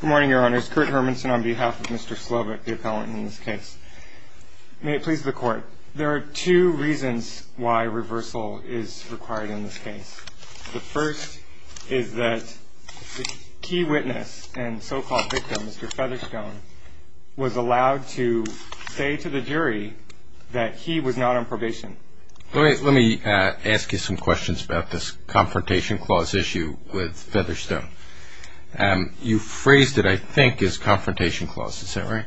Good morning, Your Honors. Kurt Hermanson on behalf of Mr. Slovik, the appellant in this case. May it please the Court, there are two reasons why reversal is required in this case. The first is that the key witness and so-called victim, Mr. Featherstone, was allowed to say to the jury that he was not on probation. Let me ask you some questions about this Confrontation Clause issue with Featherstone. You phrased it, I think, as Confrontation Clause, is that right?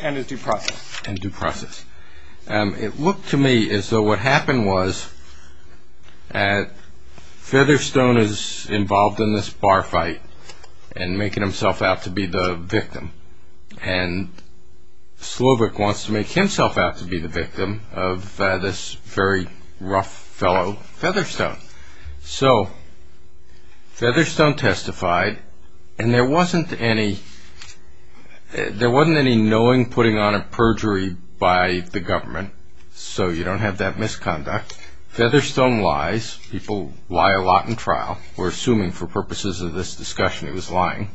And as due process. And due process. It looked to me as though what happened was that Featherstone is involved in this bar fight and making himself out to be the victim, and Slovik wants to make himself out to be the victim of this very rough fellow, Featherstone. So Featherstone testified, and there wasn't any knowing putting on a perjury by the government, so you don't have that misconduct. Featherstone lies. People lie a lot in trial. We're assuming for purposes of this discussion he was lying.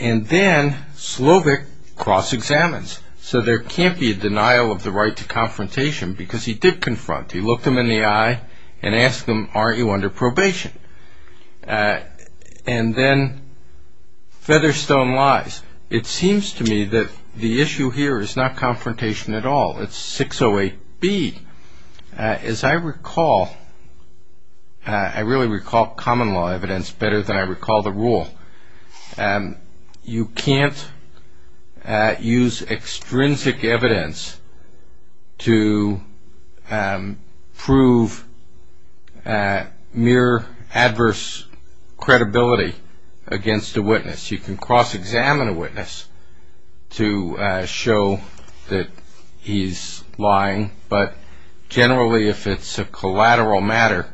And then Slovik cross-examines. So there can't be a denial of the right to confrontation because he did confront. He looked them in the eye and asked them, aren't you under probation? And then Featherstone lies. It seems to me that the issue here is not confrontation at all. It's 608B. As I recall, I really recall common law evidence better than I recall the rule. You can't use extrinsic evidence to prove mere adverse credibility against a witness. You can cross-examine a witness to show that he's lying, but generally if it's a collateral matter,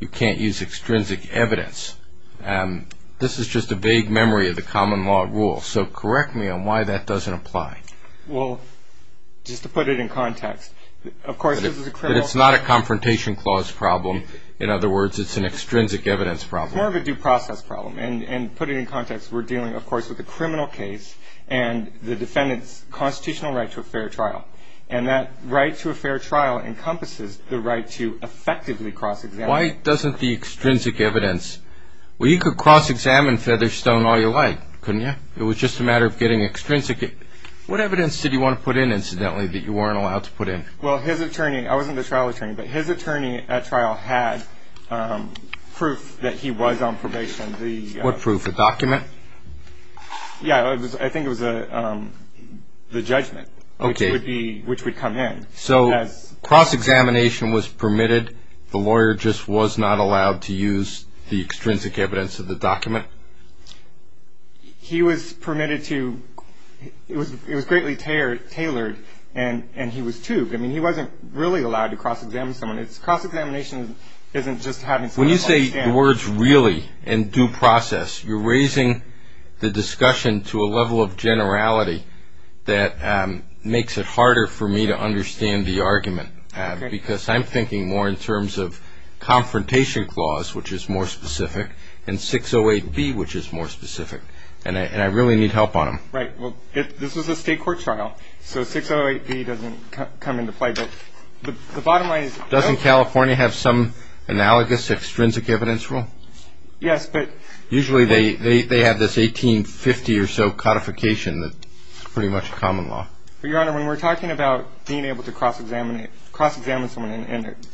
you can't use extrinsic evidence. This is just a vague memory of the common law rule, so correct me on why that doesn't apply. Well, just to put it in context, of course this is a criminal case. But it's not a confrontation clause problem. In other words, it's an extrinsic evidence problem. It's more of a due process problem. And to put it in context, we're dealing, of course, with a criminal case and the defendant's constitutional right to a fair trial. And that right to a fair trial encompasses the right to effectively cross-examine. Why doesn't the extrinsic evidence – well, you could cross-examine Featherstone all you like, couldn't you? It was just a matter of getting extrinsic. What evidence did you want to put in, incidentally, that you weren't allowed to put in? Well, his attorney – I wasn't the trial attorney, but his attorney at trial had proof that he was on probation. What proof? A document? Yeah, I think it was the judgment, which would come in. So cross-examination was permitted. The lawyer just was not allowed to use the extrinsic evidence of the document? He was permitted to – it was greatly tailored, and he was tubed. I mean, he wasn't really allowed to cross-examine someone. Cross-examination isn't just having someone understand. When you say the words really and due process, you're raising the discussion to a level of generality that makes it harder for me to understand the argument. Because I'm thinking more in terms of confrontation clause, which is more specific, and 608B, which is more specific, and I really need help on them. Right. Well, this was a state court trial, so 608B doesn't come into play. But the bottom line is – Doesn't California have some analogous extrinsic evidence rule? Yes, but – Usually they have this 1850 or so codification that's pretty much common law. But, Your Honor, when we're talking about being able to cross-examine someone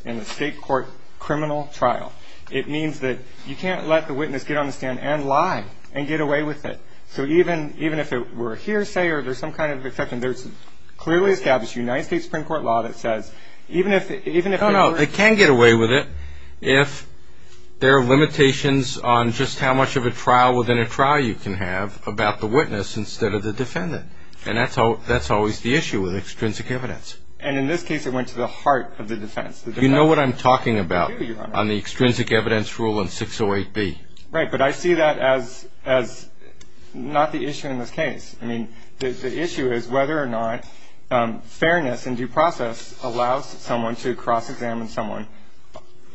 in a state court criminal trial, it means that you can't let the witness get on the stand and lie and get away with it. So even if it were a hearsay or there's some kind of exception, there's clearly established United States Supreme Court law that says even if – No, no, they can get away with it if there are limitations on just how much of a trial within a trial you can have about the witness instead of the defendant. And that's always the issue with extrinsic evidence. And in this case, it went to the heart of the defense. You know what I'm talking about on the extrinsic evidence rule in 608B. Right, but I see that as not the issue in this case. I mean, the issue is whether or not fairness and due process allows someone to cross-examine someone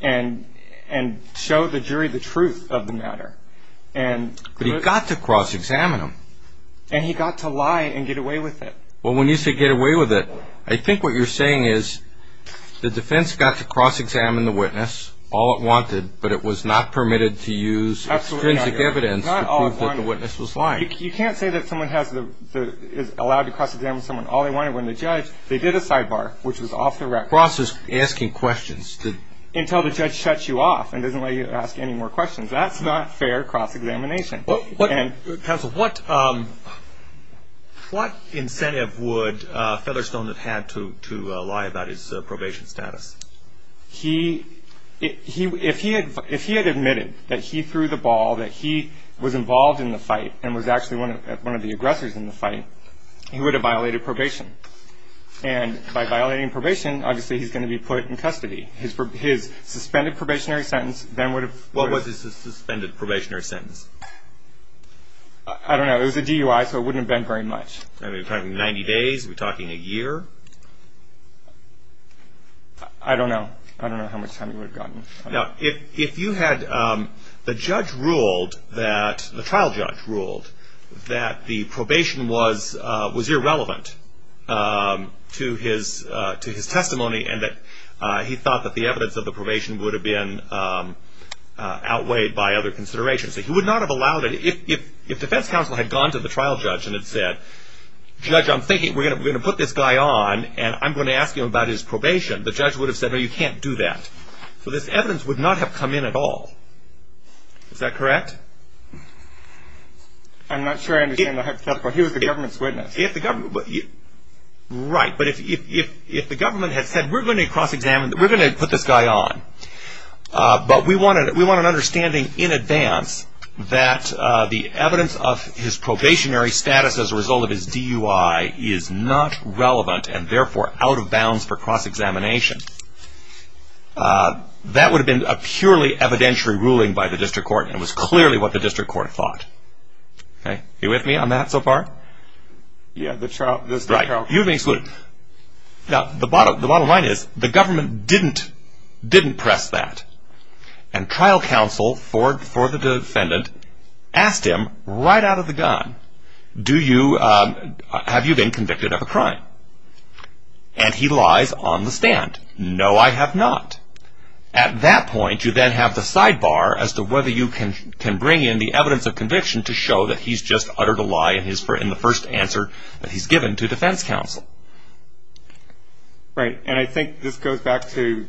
and show the jury the truth of the matter. But he got to cross-examine him. And he got to lie and get away with it. Well, when you say get away with it, I think what you're saying is the defense got to cross-examine the witness all it wanted, but it was not permitted to use extrinsic evidence to prove that the witness was lying. But you can't say that someone is allowed to cross-examine someone all they wanted when the judge – they did a sidebar, which was off the record. Cross is asking questions. Until the judge shuts you off and doesn't let you ask any more questions. That's not fair cross-examination. Counsel, what incentive would Featherstone have had to lie about his probation status? He – if he had admitted that he threw the ball, that he was involved in the fight and was actually one of the aggressors in the fight, he would have violated probation. And by violating probation, obviously he's going to be put in custody. His suspended probationary sentence then would have – What was his suspended probationary sentence? I don't know. It was a DUI, so it wouldn't have been very much. Are we talking 90 days? Are we talking a year? I don't know. I don't know how much time he would have gotten. Now, if you had – the judge ruled that – the trial judge ruled that the probation was irrelevant to his testimony and that he thought that the evidence of the probation would have been outweighed by other considerations. He would not have allowed it. If defense counsel had gone to the trial judge and had said, judge, I'm thinking we're going to put this guy on and I'm going to ask you about his probation, the judge would have said, no, you can't do that. So this evidence would not have come in at all. Is that correct? I'm not sure I understand the hypothetical. He was the government's witness. If the government – right. But if the government had said, we're going to cross-examine – we're going to put this guy on. But we want an understanding in advance that the evidence of his probationary status as a result of his DUI is not relevant and therefore out of bounds for cross-examination. That would have been a purely evidentiary ruling by the district court and it was clearly what the district court thought. Are you with me on that so far? Yeah, the trial – Right. You've been excluded. Now, the bottom line is the government didn't press that. And trial counsel for the defendant asked him right out of the gun, have you been convicted of a crime? And he lies on the stand. No, I have not. At that point, you then have the sidebar as to whether you can bring in the evidence of conviction to show that he's just uttered a lie in the first answer that he's given to defense counsel. Right. And I think this goes back to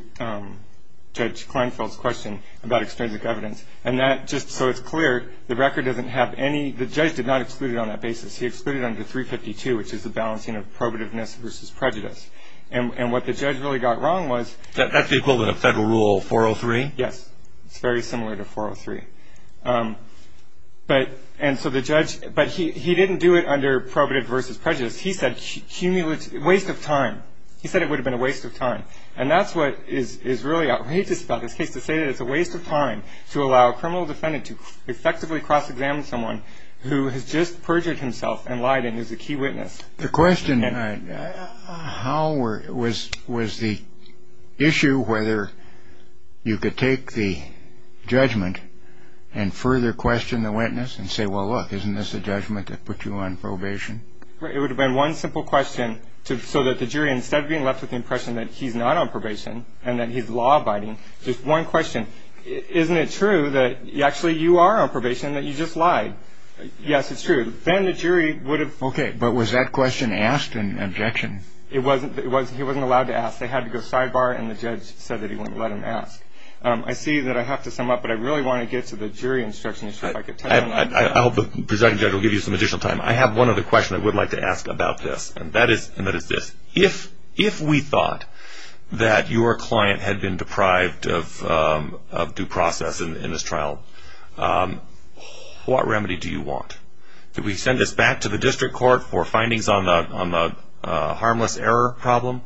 Judge Kleinfeld's question about extrinsic evidence. And that – just so it's clear, the record doesn't have any – the judge did not exclude it on that basis. He excluded under 352, which is the balancing of probativeness versus prejudice. And what the judge really got wrong was – That's the equivalent of federal rule 403? Yes. It's very similar to 403. But – and so the judge – but he didn't do it under probativeness versus prejudice. He said cumulative – waste of time. He said it would have been a waste of time. And that's what is really outrageous about this case, to say that it's a waste of time to allow a criminal defendant to effectively cross-examine someone who has just perjured himself and lied and is a key witness. The question – how were – was the issue whether you could take the judgment and further question the witness and say, well, look, isn't this a judgment that put you on probation? It would have been one simple question so that the jury, instead of being left with the impression that he's not on probation and that he's law-abiding, just one question, isn't it true that actually you are on probation, that you just lied? Yes, it's true. Then the jury would have – Okay, but was that question asked in objection? It wasn't – it wasn't – he wasn't allowed to ask. They had to go sidebar, and the judge said that he wouldn't let him ask. I see that I have to sum up, but I really want to get to the jury instruction issue. I hope the presiding judge will give you some additional time. I have one other question I would like to ask about this, and that is – and that is this. If we thought that your client had been deprived of due process in this trial, what remedy do you want? Do we send this back to the district court for findings on the harmless error problem,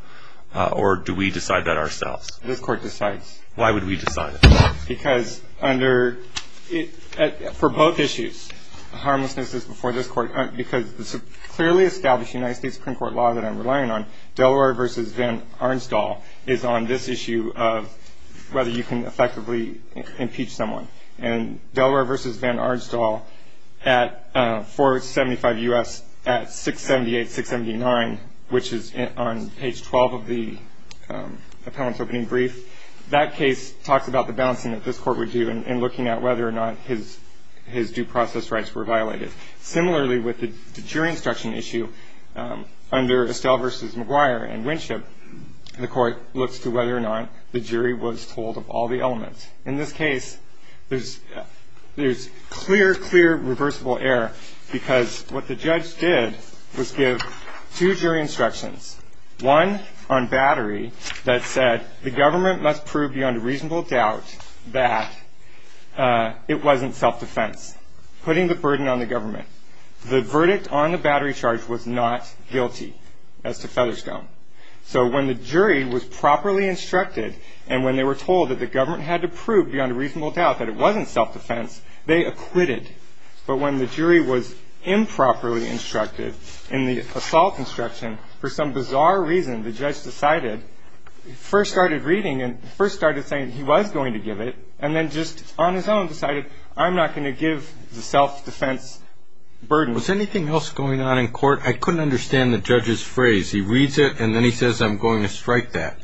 or do we decide that ourselves? This court decides. Why would we decide it? Because under – for both issues, harmlessness is before this court, because the clearly established United States Supreme Court law that I'm relying on, Delaware v. Van Arnstall, is on this issue of whether you can effectively impeach someone. And Delaware v. Van Arnstall at 475 U.S. at 678-679, which is on page 12 of the appellant's opening brief, that case talks about the balancing that this court would do in looking at whether or not his due process rights were violated. Similarly, with the jury instruction issue, under Estelle v. McGuire and Winship, the court looks to whether or not the jury was told of all the elements. In this case, there's clear, clear reversible error because what the judge did was give two jury instructions, one on battery that said the government must prove beyond reasonable doubt that it wasn't self-defense, putting the burden on the government. The verdict on the battery charge was not guilty as to Featherstone. So when the jury was properly instructed, and when they were told that the government had to prove beyond reasonable doubt that it wasn't self-defense, they acquitted. But when the jury was improperly instructed in the assault instruction, for some bizarre reason, the judge decided, first started reading and first started saying he was going to give it, and then just on his own decided, I'm not going to give the self-defense burden. Was anything else going on in court? I couldn't understand the judge's phrase. He reads it, and then he says, I'm going to strike that.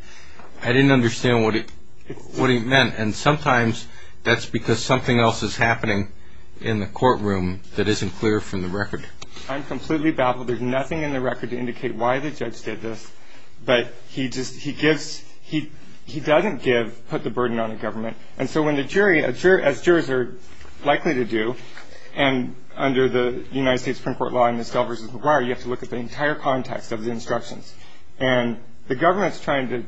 I didn't understand what he meant, and sometimes that's because something else is happening in the courtroom that isn't clear from the record. I'm completely baffled. There's nothing in the record to indicate why the judge did this, but he doesn't put the burden on the government. And so when the jury, as jurors are likely to do, you have to look at the entire context of the instructions, and the government's trying to,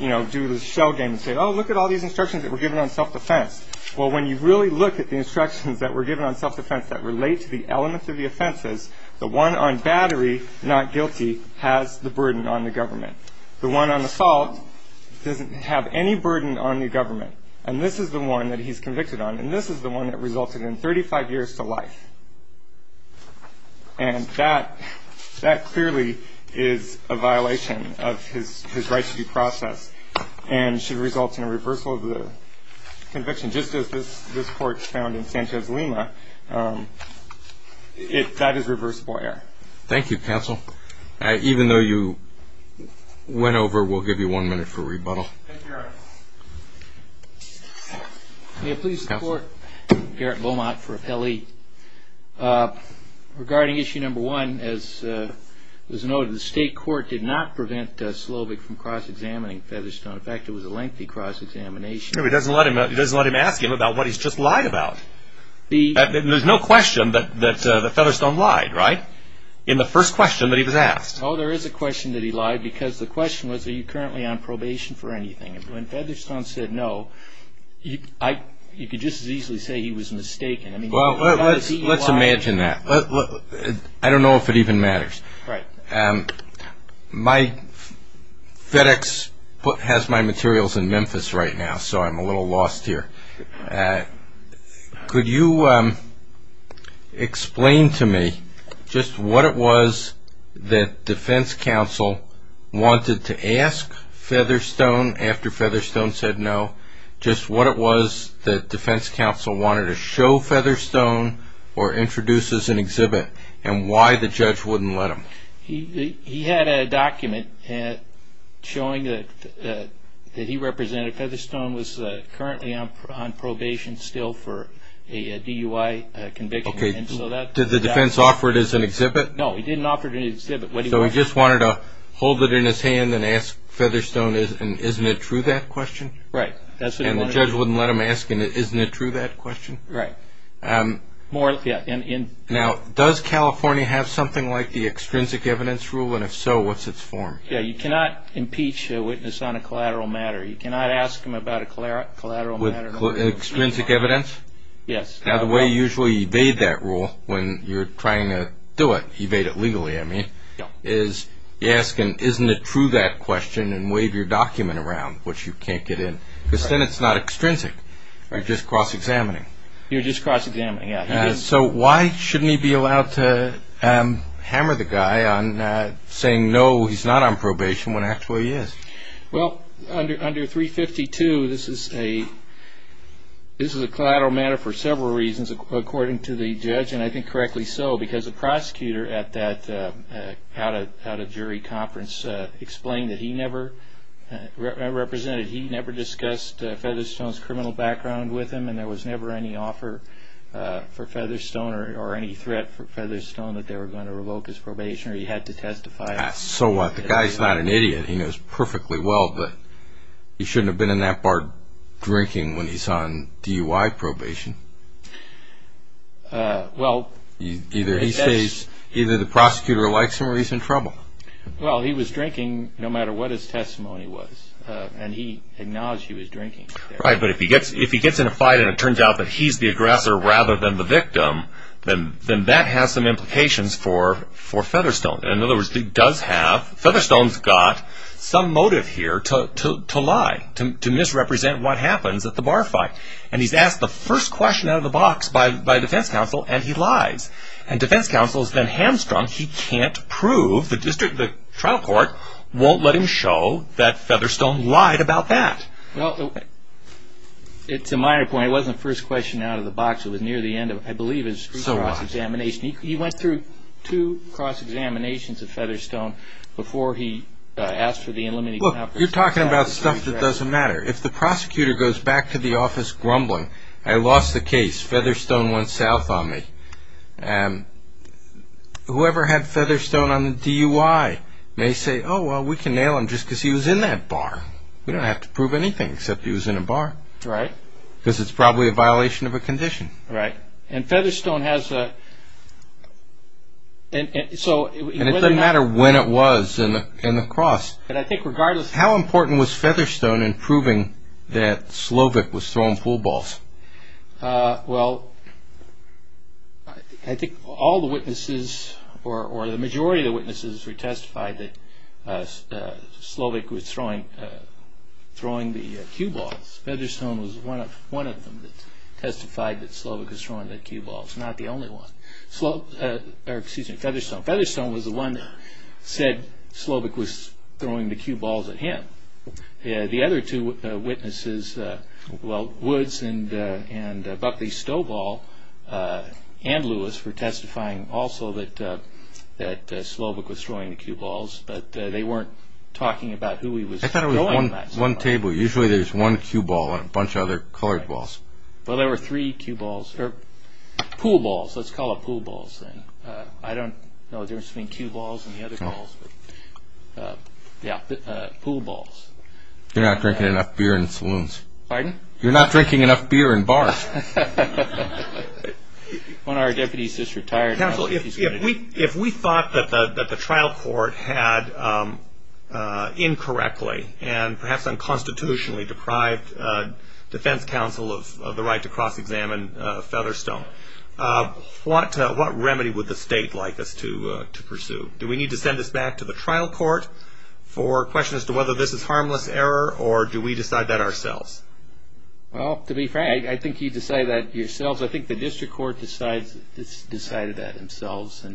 you know, do the shell game and say, oh, look at all these instructions that were given on self-defense. Well, when you really look at the instructions that were given on self-defense that relate to the elements of the offenses, the one on battery, not guilty, has the burden on the government. The one on assault doesn't have any burden on the government, and this is the one that he's convicted on, and this is the one that resulted in 35 years to life. And that clearly is a violation of his right to due process and should result in a reversal of the conviction. Just as this court found in Sanchez-Lima, that is reversible error. Thank you, counsel. Even though you went over, we'll give you one minute for rebuttal. Thank you, Eric. May I please support Garrett Beaumont for appellee? Regarding issue number one, as was noted, the state court did not prevent Slovic from cross-examining Featherstone. In fact, it was a lengthy cross-examination. It doesn't let him ask him about what he's just lied about. There's no question that Featherstone lied, right, in the first question that he was asked. Oh, there is a question that he lied, because the question was, are you currently on probation for anything? When Featherstone said no, you could just as easily say he was mistaken. Well, let's imagine that. I don't know if it even matters. My FedEx has my materials in Memphis right now, so I'm a little lost here. Could you explain to me just what it was that defense counsel wanted to ask Featherstone after Featherstone said no, just what it was that defense counsel wanted to show Featherstone or introduce as an exhibit, and why the judge wouldn't let him? He had a document showing that he represented Featherstone was currently on probation still for a DUI conviction. Did the defense offer it as an exhibit? So he just wanted to hold it in his hand and ask Featherstone, isn't it true, that question? Right. And the judge wouldn't let him ask him, isn't it true, that question? Right. Now, does California have something like the extrinsic evidence rule, and if so, what's its form? You cannot impeach a witness on a collateral matter. You cannot ask him about a collateral matter. With extrinsic evidence? Yes. Now, the way you usually evade that rule when you're trying to do it, evade it legally, I mean, is you ask an isn't it true, that question, and wave your document around, which you can't get in, because then it's not extrinsic. You're just cross-examining. You're just cross-examining, yeah. So why shouldn't he be allowed to hammer the guy on saying no, he's not on probation, when actually he is? Well, under 352, this is a collateral matter for several reasons, according to the judge, and I think correctly so, because the prosecutor at that out-of-jury conference explained that he never represented, he never discussed Featherstone's criminal background with him, and there was never any offer for Featherstone or any threat for Featherstone that they were going to revoke his probation, or he had to testify. So what? The guy's not an idiot. He knows perfectly well that he shouldn't have been in that bar drinking when he's on DUI probation. Either the prosecutor likes him or he's in trouble. Well, he was drinking no matter what his testimony was, and he acknowledged he was drinking. Right, but if he gets in a fight and it turns out that he's the aggressor rather than the victim, then that has some implications for Featherstone. In other words, Featherstone's got some motive here to lie, to misrepresent what happens at the bar fight, and he's asked the first question out of the box by defense counsel, and he lies. And defense counsel is then hamstrung. He can't prove. The trial court won't let him show that Featherstone lied about that. Well, it's a minor point. It wasn't the first question out of the box. It was near the end of, I believe, his street cross-examination. So what? He went through two cross-examinations of Featherstone before he asked for the in-limited cap. Look, you're talking about stuff that doesn't matter. If the prosecutor goes back to the office grumbling, I lost the case, Featherstone went south on me, whoever had Featherstone on the DUI may say, oh, well, we can nail him just because he was in that bar. We don't have to prove anything except he was in a bar. Right. Because it's probably a violation of a condition. Right. And Featherstone has a – And it doesn't matter when it was in the cross. But I think regardless – How important was Featherstone in proving that Slovik was throwing pool balls? Well, I think all the witnesses or the majority of the witnesses who testified that Slovik was throwing the cue balls, Featherstone was one of them that testified that Slovik was throwing the cue balls, not the only one. Or, excuse me, Featherstone. Featherstone was the one that said Slovik was throwing the cue balls at him. The other two witnesses, well, Woods and Buckley Stovall and Lewis, were testifying also that Slovik was throwing the cue balls, I thought it was one table. Usually there's one cue ball and a bunch of other colored balls. Well, there were three cue balls – or pool balls. Let's call it pool balls then. I don't know the difference between cue balls and the other balls. Yeah, pool balls. You're not drinking enough beer in saloons. Pardon? You're not drinking enough beer in bars. One of our deputies just retired. If we thought that the trial court had incorrectly and perhaps unconstitutionally deprived defense counsel of the right to cross-examine Featherstone, what remedy would the state like us to pursue? Do we need to send this back to the trial court for questions as to whether this is harmless error or do we decide that ourselves? Well, to be frank, I think you decide that yourselves. I think the district court decided that themselves.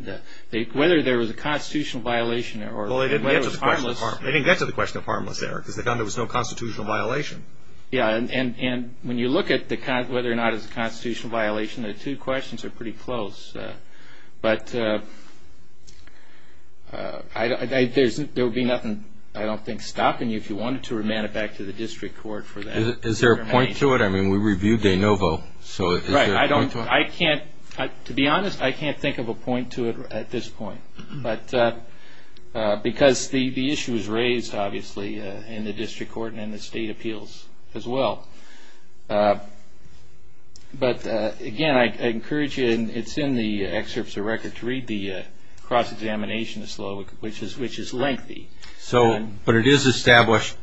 Whether there was a constitutional violation or whether it was harmless. Well, they didn't get to the question of harmless error because they found there was no constitutional violation. Yeah, and when you look at whether or not it was a constitutional violation, the two questions are pretty close. But there would be nothing, I don't think, stopping you if you wanted to remand it back to the district court for that. Is there a point to it? I mean, we reviewed de novo. Right. To be honest, I can't think of a point to it at this point because the issue was raised, obviously, in the district court and in the state appeals as well. But, again, I encourage you, and it's in the excerpts of the record, to read the cross-examination of Slovik, which is lengthy. But it is established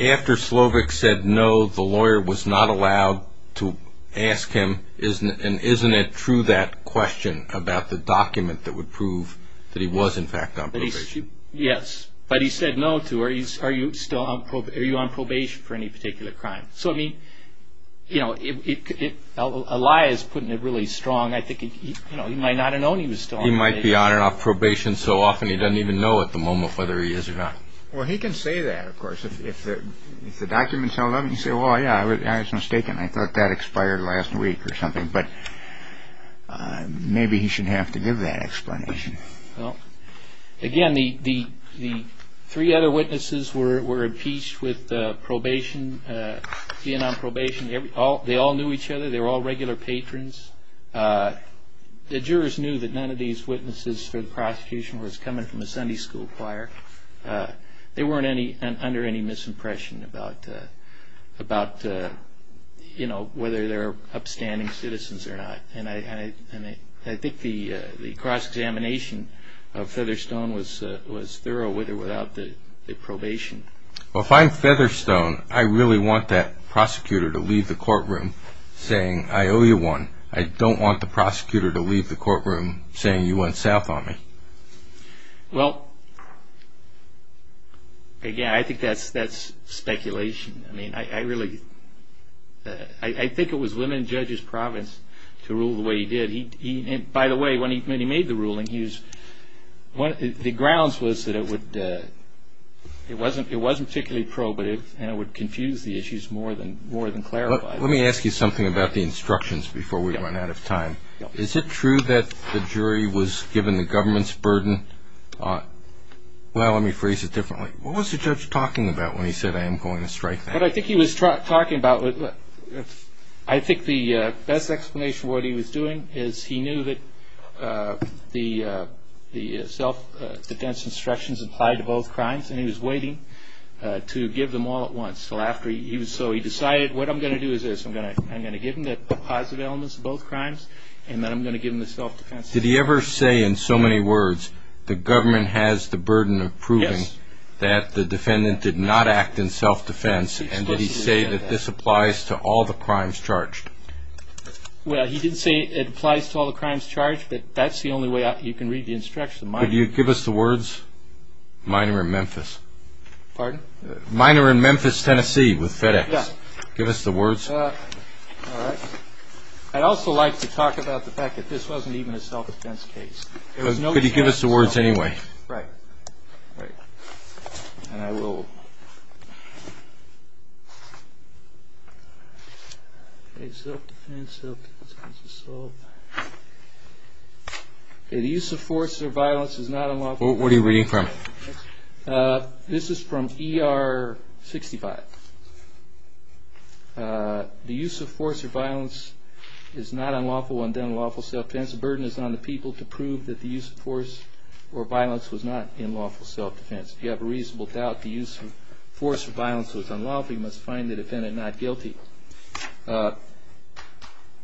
after Slovik said no, the lawyer was not allowed to ask him, and isn't it true that question about the document that would prove that he was, in fact, on probation? Yes, but he said no to are you on probation for any particular crime. So, I mean, a lie is putting it really strong. I think he might not have known he was still on probation. He might be on and off probation so often he doesn't even know at the moment whether he is or not. Well, he can say that, of course. If the document tells him, he can say, well, yeah, I was mistaken. I thought that expired last week or something. But maybe he shouldn't have to give that explanation. Again, the three other witnesses were impeached with probation, Vietnam probation. They all knew each other. They were all regular patrons. The jurors knew that none of these witnesses for the prosecution was coming from a Sunday school choir. They weren't under any misimpression about, you know, whether they're upstanding citizens or not. And I think the cross-examination of Featherstone was thorough with or without the probation. Well, if I'm Featherstone, I really want that prosecutor to leave the courtroom saying, I owe you one. I don't want the prosecutor to leave the courtroom saying you went south on me. Well, again, I think that's speculation. I mean, I really – I think it was women judges' province to rule the way he did. By the way, when he made the ruling, he was – the grounds was that it would – it wasn't particularly probative and it would confuse the issues more than clarify them. Let me ask you something about the instructions before we run out of time. Is it true that the jury was given the government's burden? Well, let me phrase it differently. What was the judge talking about when he said, I am going to strike that? What I think he was talking about – I think the best explanation for what he was doing is he knew that the self-defense instructions applied to both crimes, and he was waiting to give them all at once. So after he – so he decided, what I'm going to do is this. I'm going to give him the positive elements of both crimes, and then I'm going to give him the self-defense. Did he ever say in so many words, the government has the burden of proving that the defendant did not act in self-defense? And did he say that this applies to all the crimes charged? Well, he did say it applies to all the crimes charged, but that's the only way you can read the instructions. Could you give us the words? Minor in Memphis. Pardon? Minor in Memphis, Tennessee with FedEx. Yes. Give us the words. All right. I'd also like to talk about the fact that this wasn't even a self-defense case. Could you give us the words anyway? Right. Right. And I will. Okay, self-defense, self-defense, self-assault. Okay, the use of force or violence is not unlawful. What are you reading from? This is from ER 65. The use of force or violence is not unlawful, undone lawful self-defense. The burden is on the people to prove that the use of force or violence was not unlawful self-defense. If you have a reasonable doubt the use of force or violence was unlawful, you must find the defendant not guilty.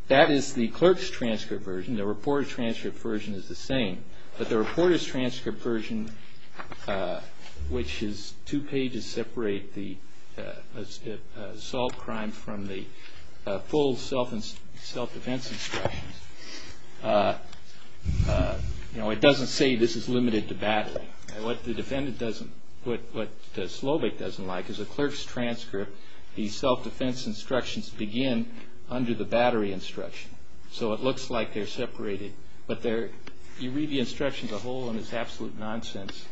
That is the clerk's transcript version. The reporter's transcript version is the same. But the reporter's transcript version, which is two pages separate the assault crime from the full self-defense instructions, you know, it doesn't say this is limited to battery. What the defendant doesn't, what Slovik doesn't like is the clerk's transcript, the self-defense instructions begin under the battery instruction. So it looks like they're separated. But you read the instructions as a whole and it's absolute nonsense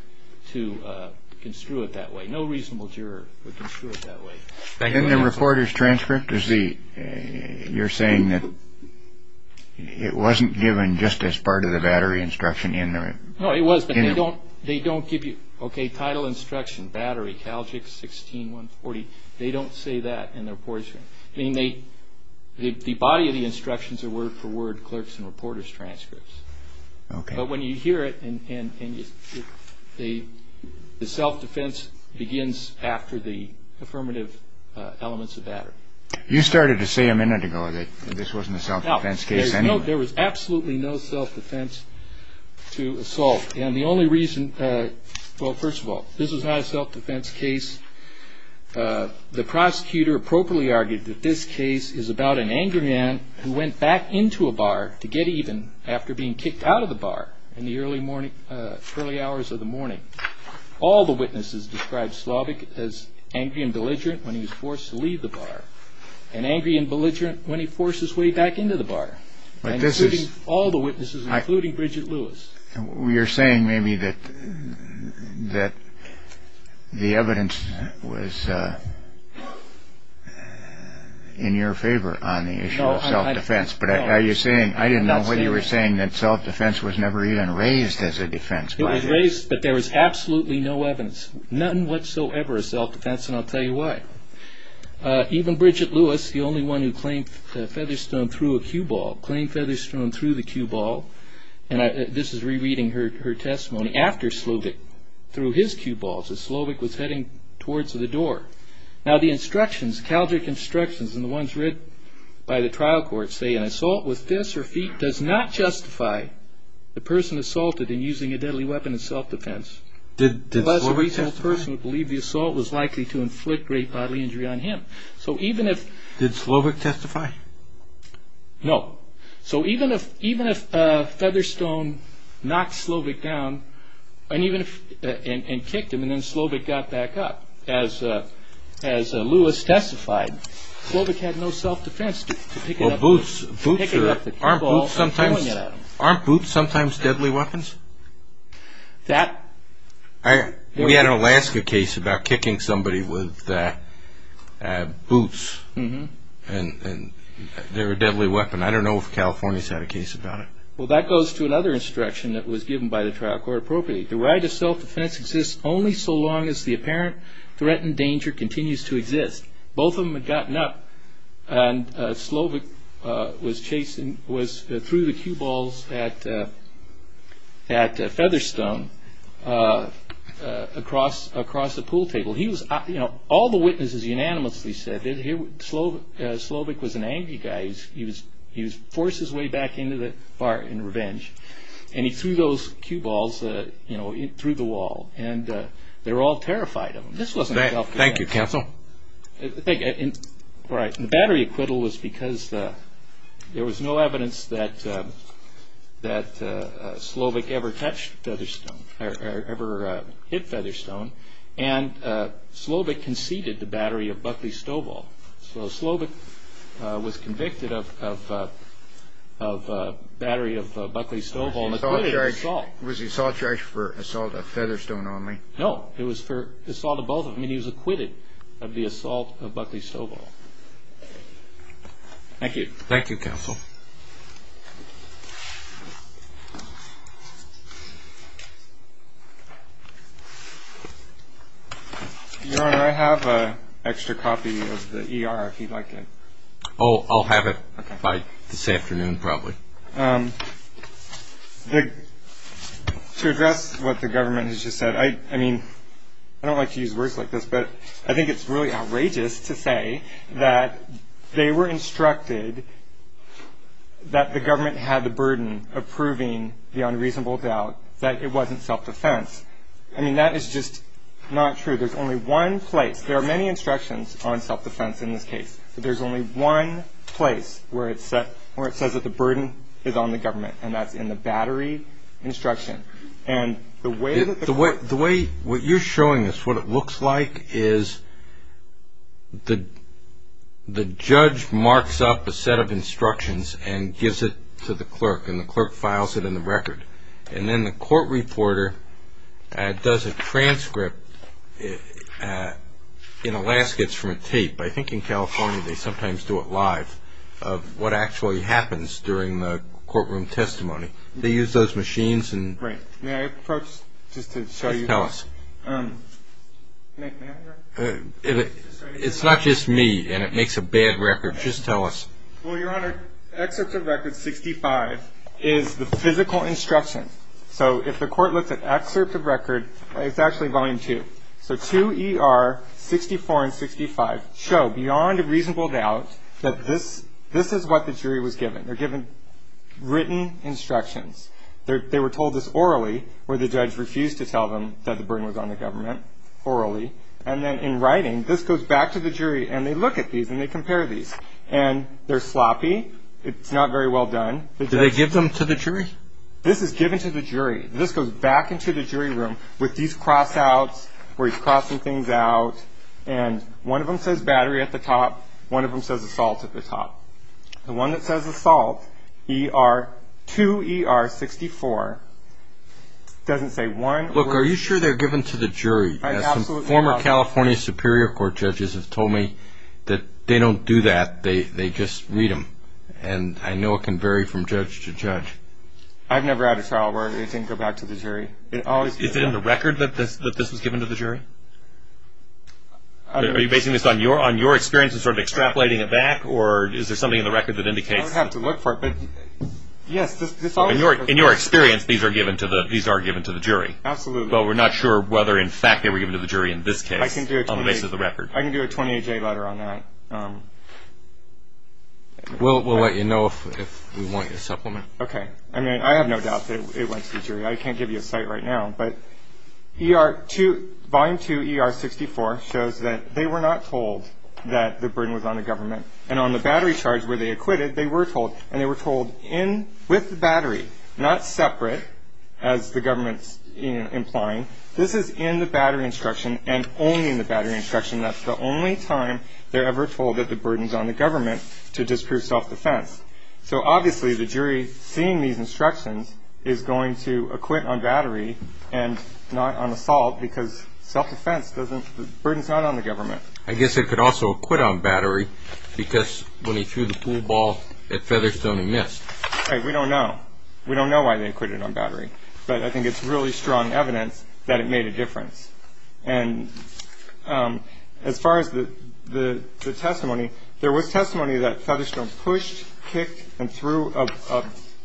to construe it that way. No reasonable juror would construe it that way. In the reporter's transcript, you're saying that it wasn't given just as part of the battery instruction in there. No, it was, but they don't give you, okay, title instruction, battery, Calgic 16-140. They don't say that in the reporter's transcript. I mean, the body of the instructions are word for word clerk's and reporter's transcripts. But when you hear it, the self-defense begins after the affirmative elements of battery. You started to say a minute ago that this wasn't a self-defense case anyway. No, there was absolutely no self-defense to assault. And the only reason, well, first of all, this was not a self-defense case. The prosecutor appropriately argued that this case is about an angry man who went back into a bar to get even after being kicked out of the bar in the early hours of the morning. All the witnesses described Slavik as angry and belligerent when he was forced to leave the bar and angry and belligerent when he forced his way back into the bar, including all the witnesses, including Bridget Lewis. You're saying maybe that the evidence was in your favor on the issue of self-defense, but I didn't know whether you were saying that self-defense was never even raised as a defense. It was raised, but there was absolutely no evidence, nothing whatsoever of self-defense, and I'll tell you why. Even Bridget Lewis, the only one who claimed Featherstone threw a cue ball, claimed Featherstone threw the cue ball, and this is rereading her testimony, after Slavik threw his cue balls as Slavik was heading towards the door. Now, the instructions, Calgary instructions, and the ones read by the trial court say, an assault with fists or feet does not justify the person assaulted in using a deadly weapon in self-defense. Did Slavik testify? Unless a reasonable person would believe the assault was likely to inflict great bodily injury on him. So even if... Did Slavik testify? No. So even if Featherstone knocked Slavik down and kicked him, and then Slavik got back up, as Lewis testified, Slavik had no self-defense to pick it up with a cue ball and throwing it at him. Aren't boots sometimes deadly weapons? That... We had an Alaska case about kicking somebody with boots, and they were a deadly weapon. I don't know if California's had a case about it. Well, that goes to another instruction that was given by the trial court appropriately. The right of self-defense exists only so long as the apparent threat and danger continues to exist. Both of them had gotten up, and Slavik was chasing... threw the cue balls at Featherstone across the pool table. He was... All the witnesses unanimously said that Slavik was an angry guy. He was forced his way back into the bar in revenge, and he threw those cue balls through the wall, and they were all terrified of him. This wasn't self-defense. Thank you, counsel. The battery acquittal was because there was no evidence that Slavik ever touched Featherstone, or ever hit Featherstone, and Slavik conceded the battery of Buckley Stovall. So Slavik was convicted of battery of Buckley Stovall and acquitted of assault. Was the assault charged for assault of Featherstone only? No, it was for assault of both of them, and he was acquitted of the assault of Buckley Stovall. Thank you. Thank you, counsel. Your Honor, I have an extra copy of the E.R. if you'd like it. Oh, I'll have it by this afternoon probably. To address what the government has just said, I mean, I don't like to use words like this, but I think it's really outrageous to say that they were instructed that the government had the burden of proving the unreasonable doubt that it wasn't self-defense. I mean, that is just not true. There's only one place. There are many instructions on self-defense in this case, but there's only one place where it says that the burden is on the government, and that's in the battery instruction. And the way that the court ---- The way what you're showing us, what it looks like is the judge marks up a set of instructions and gives it to the clerk, and the clerk files it in the record. And then the court reporter does a transcript in Alaska. It's from a tape. I think in California they sometimes do it live of what actually happens during the courtroom testimony. They use those machines and ---- Right. May I approach just to show you ---- Just tell us. It's not just me, and it makes a bad record. Just tell us. Well, Your Honor, Excerpt of Record 65 is the physical instruction. So if the court looks at Excerpt of Record, it's actually Volume 2. So 2ER, 64, and 65 show beyond a reasonable doubt that this is what the jury was given. They're given written instructions. They were told this orally, where the judge refused to tell them that the burden was on the government, orally. And then in writing, this goes back to the jury, and they look at these, and they compare these. And they're sloppy. It's not very well done. Do they give them to the jury? This is given to the jury. This goes back into the jury room with these cross-outs where he's crossing things out. And one of them says battery at the top. One of them says assault at the top. The one that says assault, 2ER, 64, doesn't say one. Look, are you sure they're given to the jury? I absolutely doubt it. The former California Superior Court judges have told me that they don't do that. They just read them. And I know it can vary from judge to judge. I've never had a trial where it didn't go back to the jury. Is it in the record that this was given to the jury? Are you basing this on your experience of sort of extrapolating it back, or is there something in the record that indicates? I would have to look for it. In your experience, these are given to the jury. Absolutely. Well, we're not sure whether, in fact, they were given to the jury in this case on the basis of the record. I can do a 28-J letter on that. We'll let you know if we want you to supplement. Okay. I mean, I have no doubt that it went to the jury. I can't give you a cite right now. But volume 2ER, 64, shows that they were not told that the burden was on the government. And on the battery charge where they acquitted, they were told. With the battery, not separate, as the government's implying. This is in the battery instruction and only in the battery instruction. That's the only time they're ever told that the burden's on the government to disprove self-defense. So, obviously, the jury, seeing these instructions, is going to acquit on battery and not on assault because self-defense doesn't – the burden's not on the government. I guess it could also acquit on battery because when he threw the pool ball at Featherstone, he missed. Right. We don't know. We don't know why they acquitted on battery. But I think it's really strong evidence that it made a difference. And as far as the testimony, there was testimony that Featherstone pushed, kicked, and threw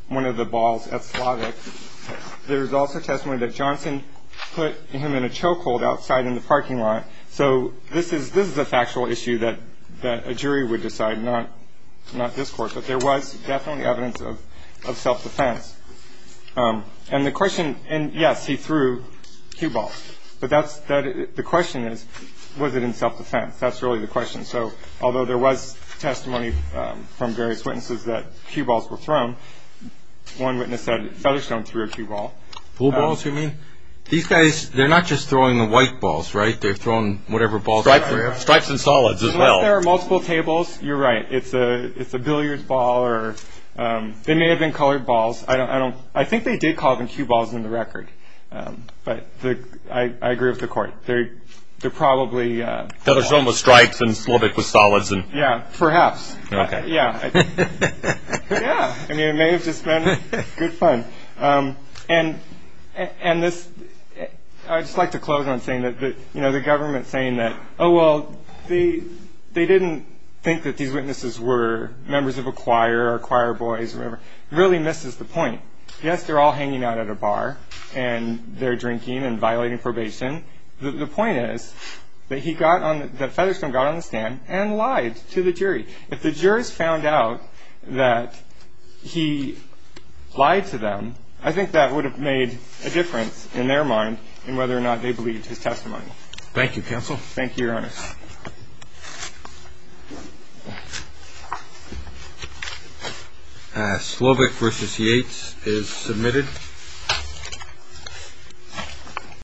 one of the balls at Slavik. There was also testimony that Johnson put him in a chokehold outside in the parking lot. So this is a factual issue that a jury would decide, not this Court. But there was definitely evidence of self-defense. And the question – and, yes, he threw cue balls. But the question is, was it in self-defense? That's really the question. So although there was testimony from various witnesses that cue balls were thrown, one witness said Featherstone threw a cue ball. Pool balls, you mean? These guys, they're not just throwing the white balls, right? They're throwing whatever balls – Stripes and solids as well. Unless there are multiple tables, you're right. It's a billiards ball or – they may have been colored balls. I don't – I think they did call them cue balls in the record. But I agree with the Court. They're probably – Featherstone was striped and Slavik was solids. Yeah, perhaps. Okay. Yeah. Yeah. I mean, it may have just been good fun. And this – I'd just like to close on saying that, you know, the government saying that, oh, well, they didn't think that these witnesses were members of a choir or choir boys or whatever, really misses the point. Yes, they're all hanging out at a bar, and they're drinking and violating probation. The point is that he got on – that Featherstone got on the stand and lied to the jury. If the jurors found out that he lied to them, I think that would have made a difference in their mind in whether or not they believed his testimony. Thank you, counsel. Thank you, Your Honor. Slavik v. Yates is submitted.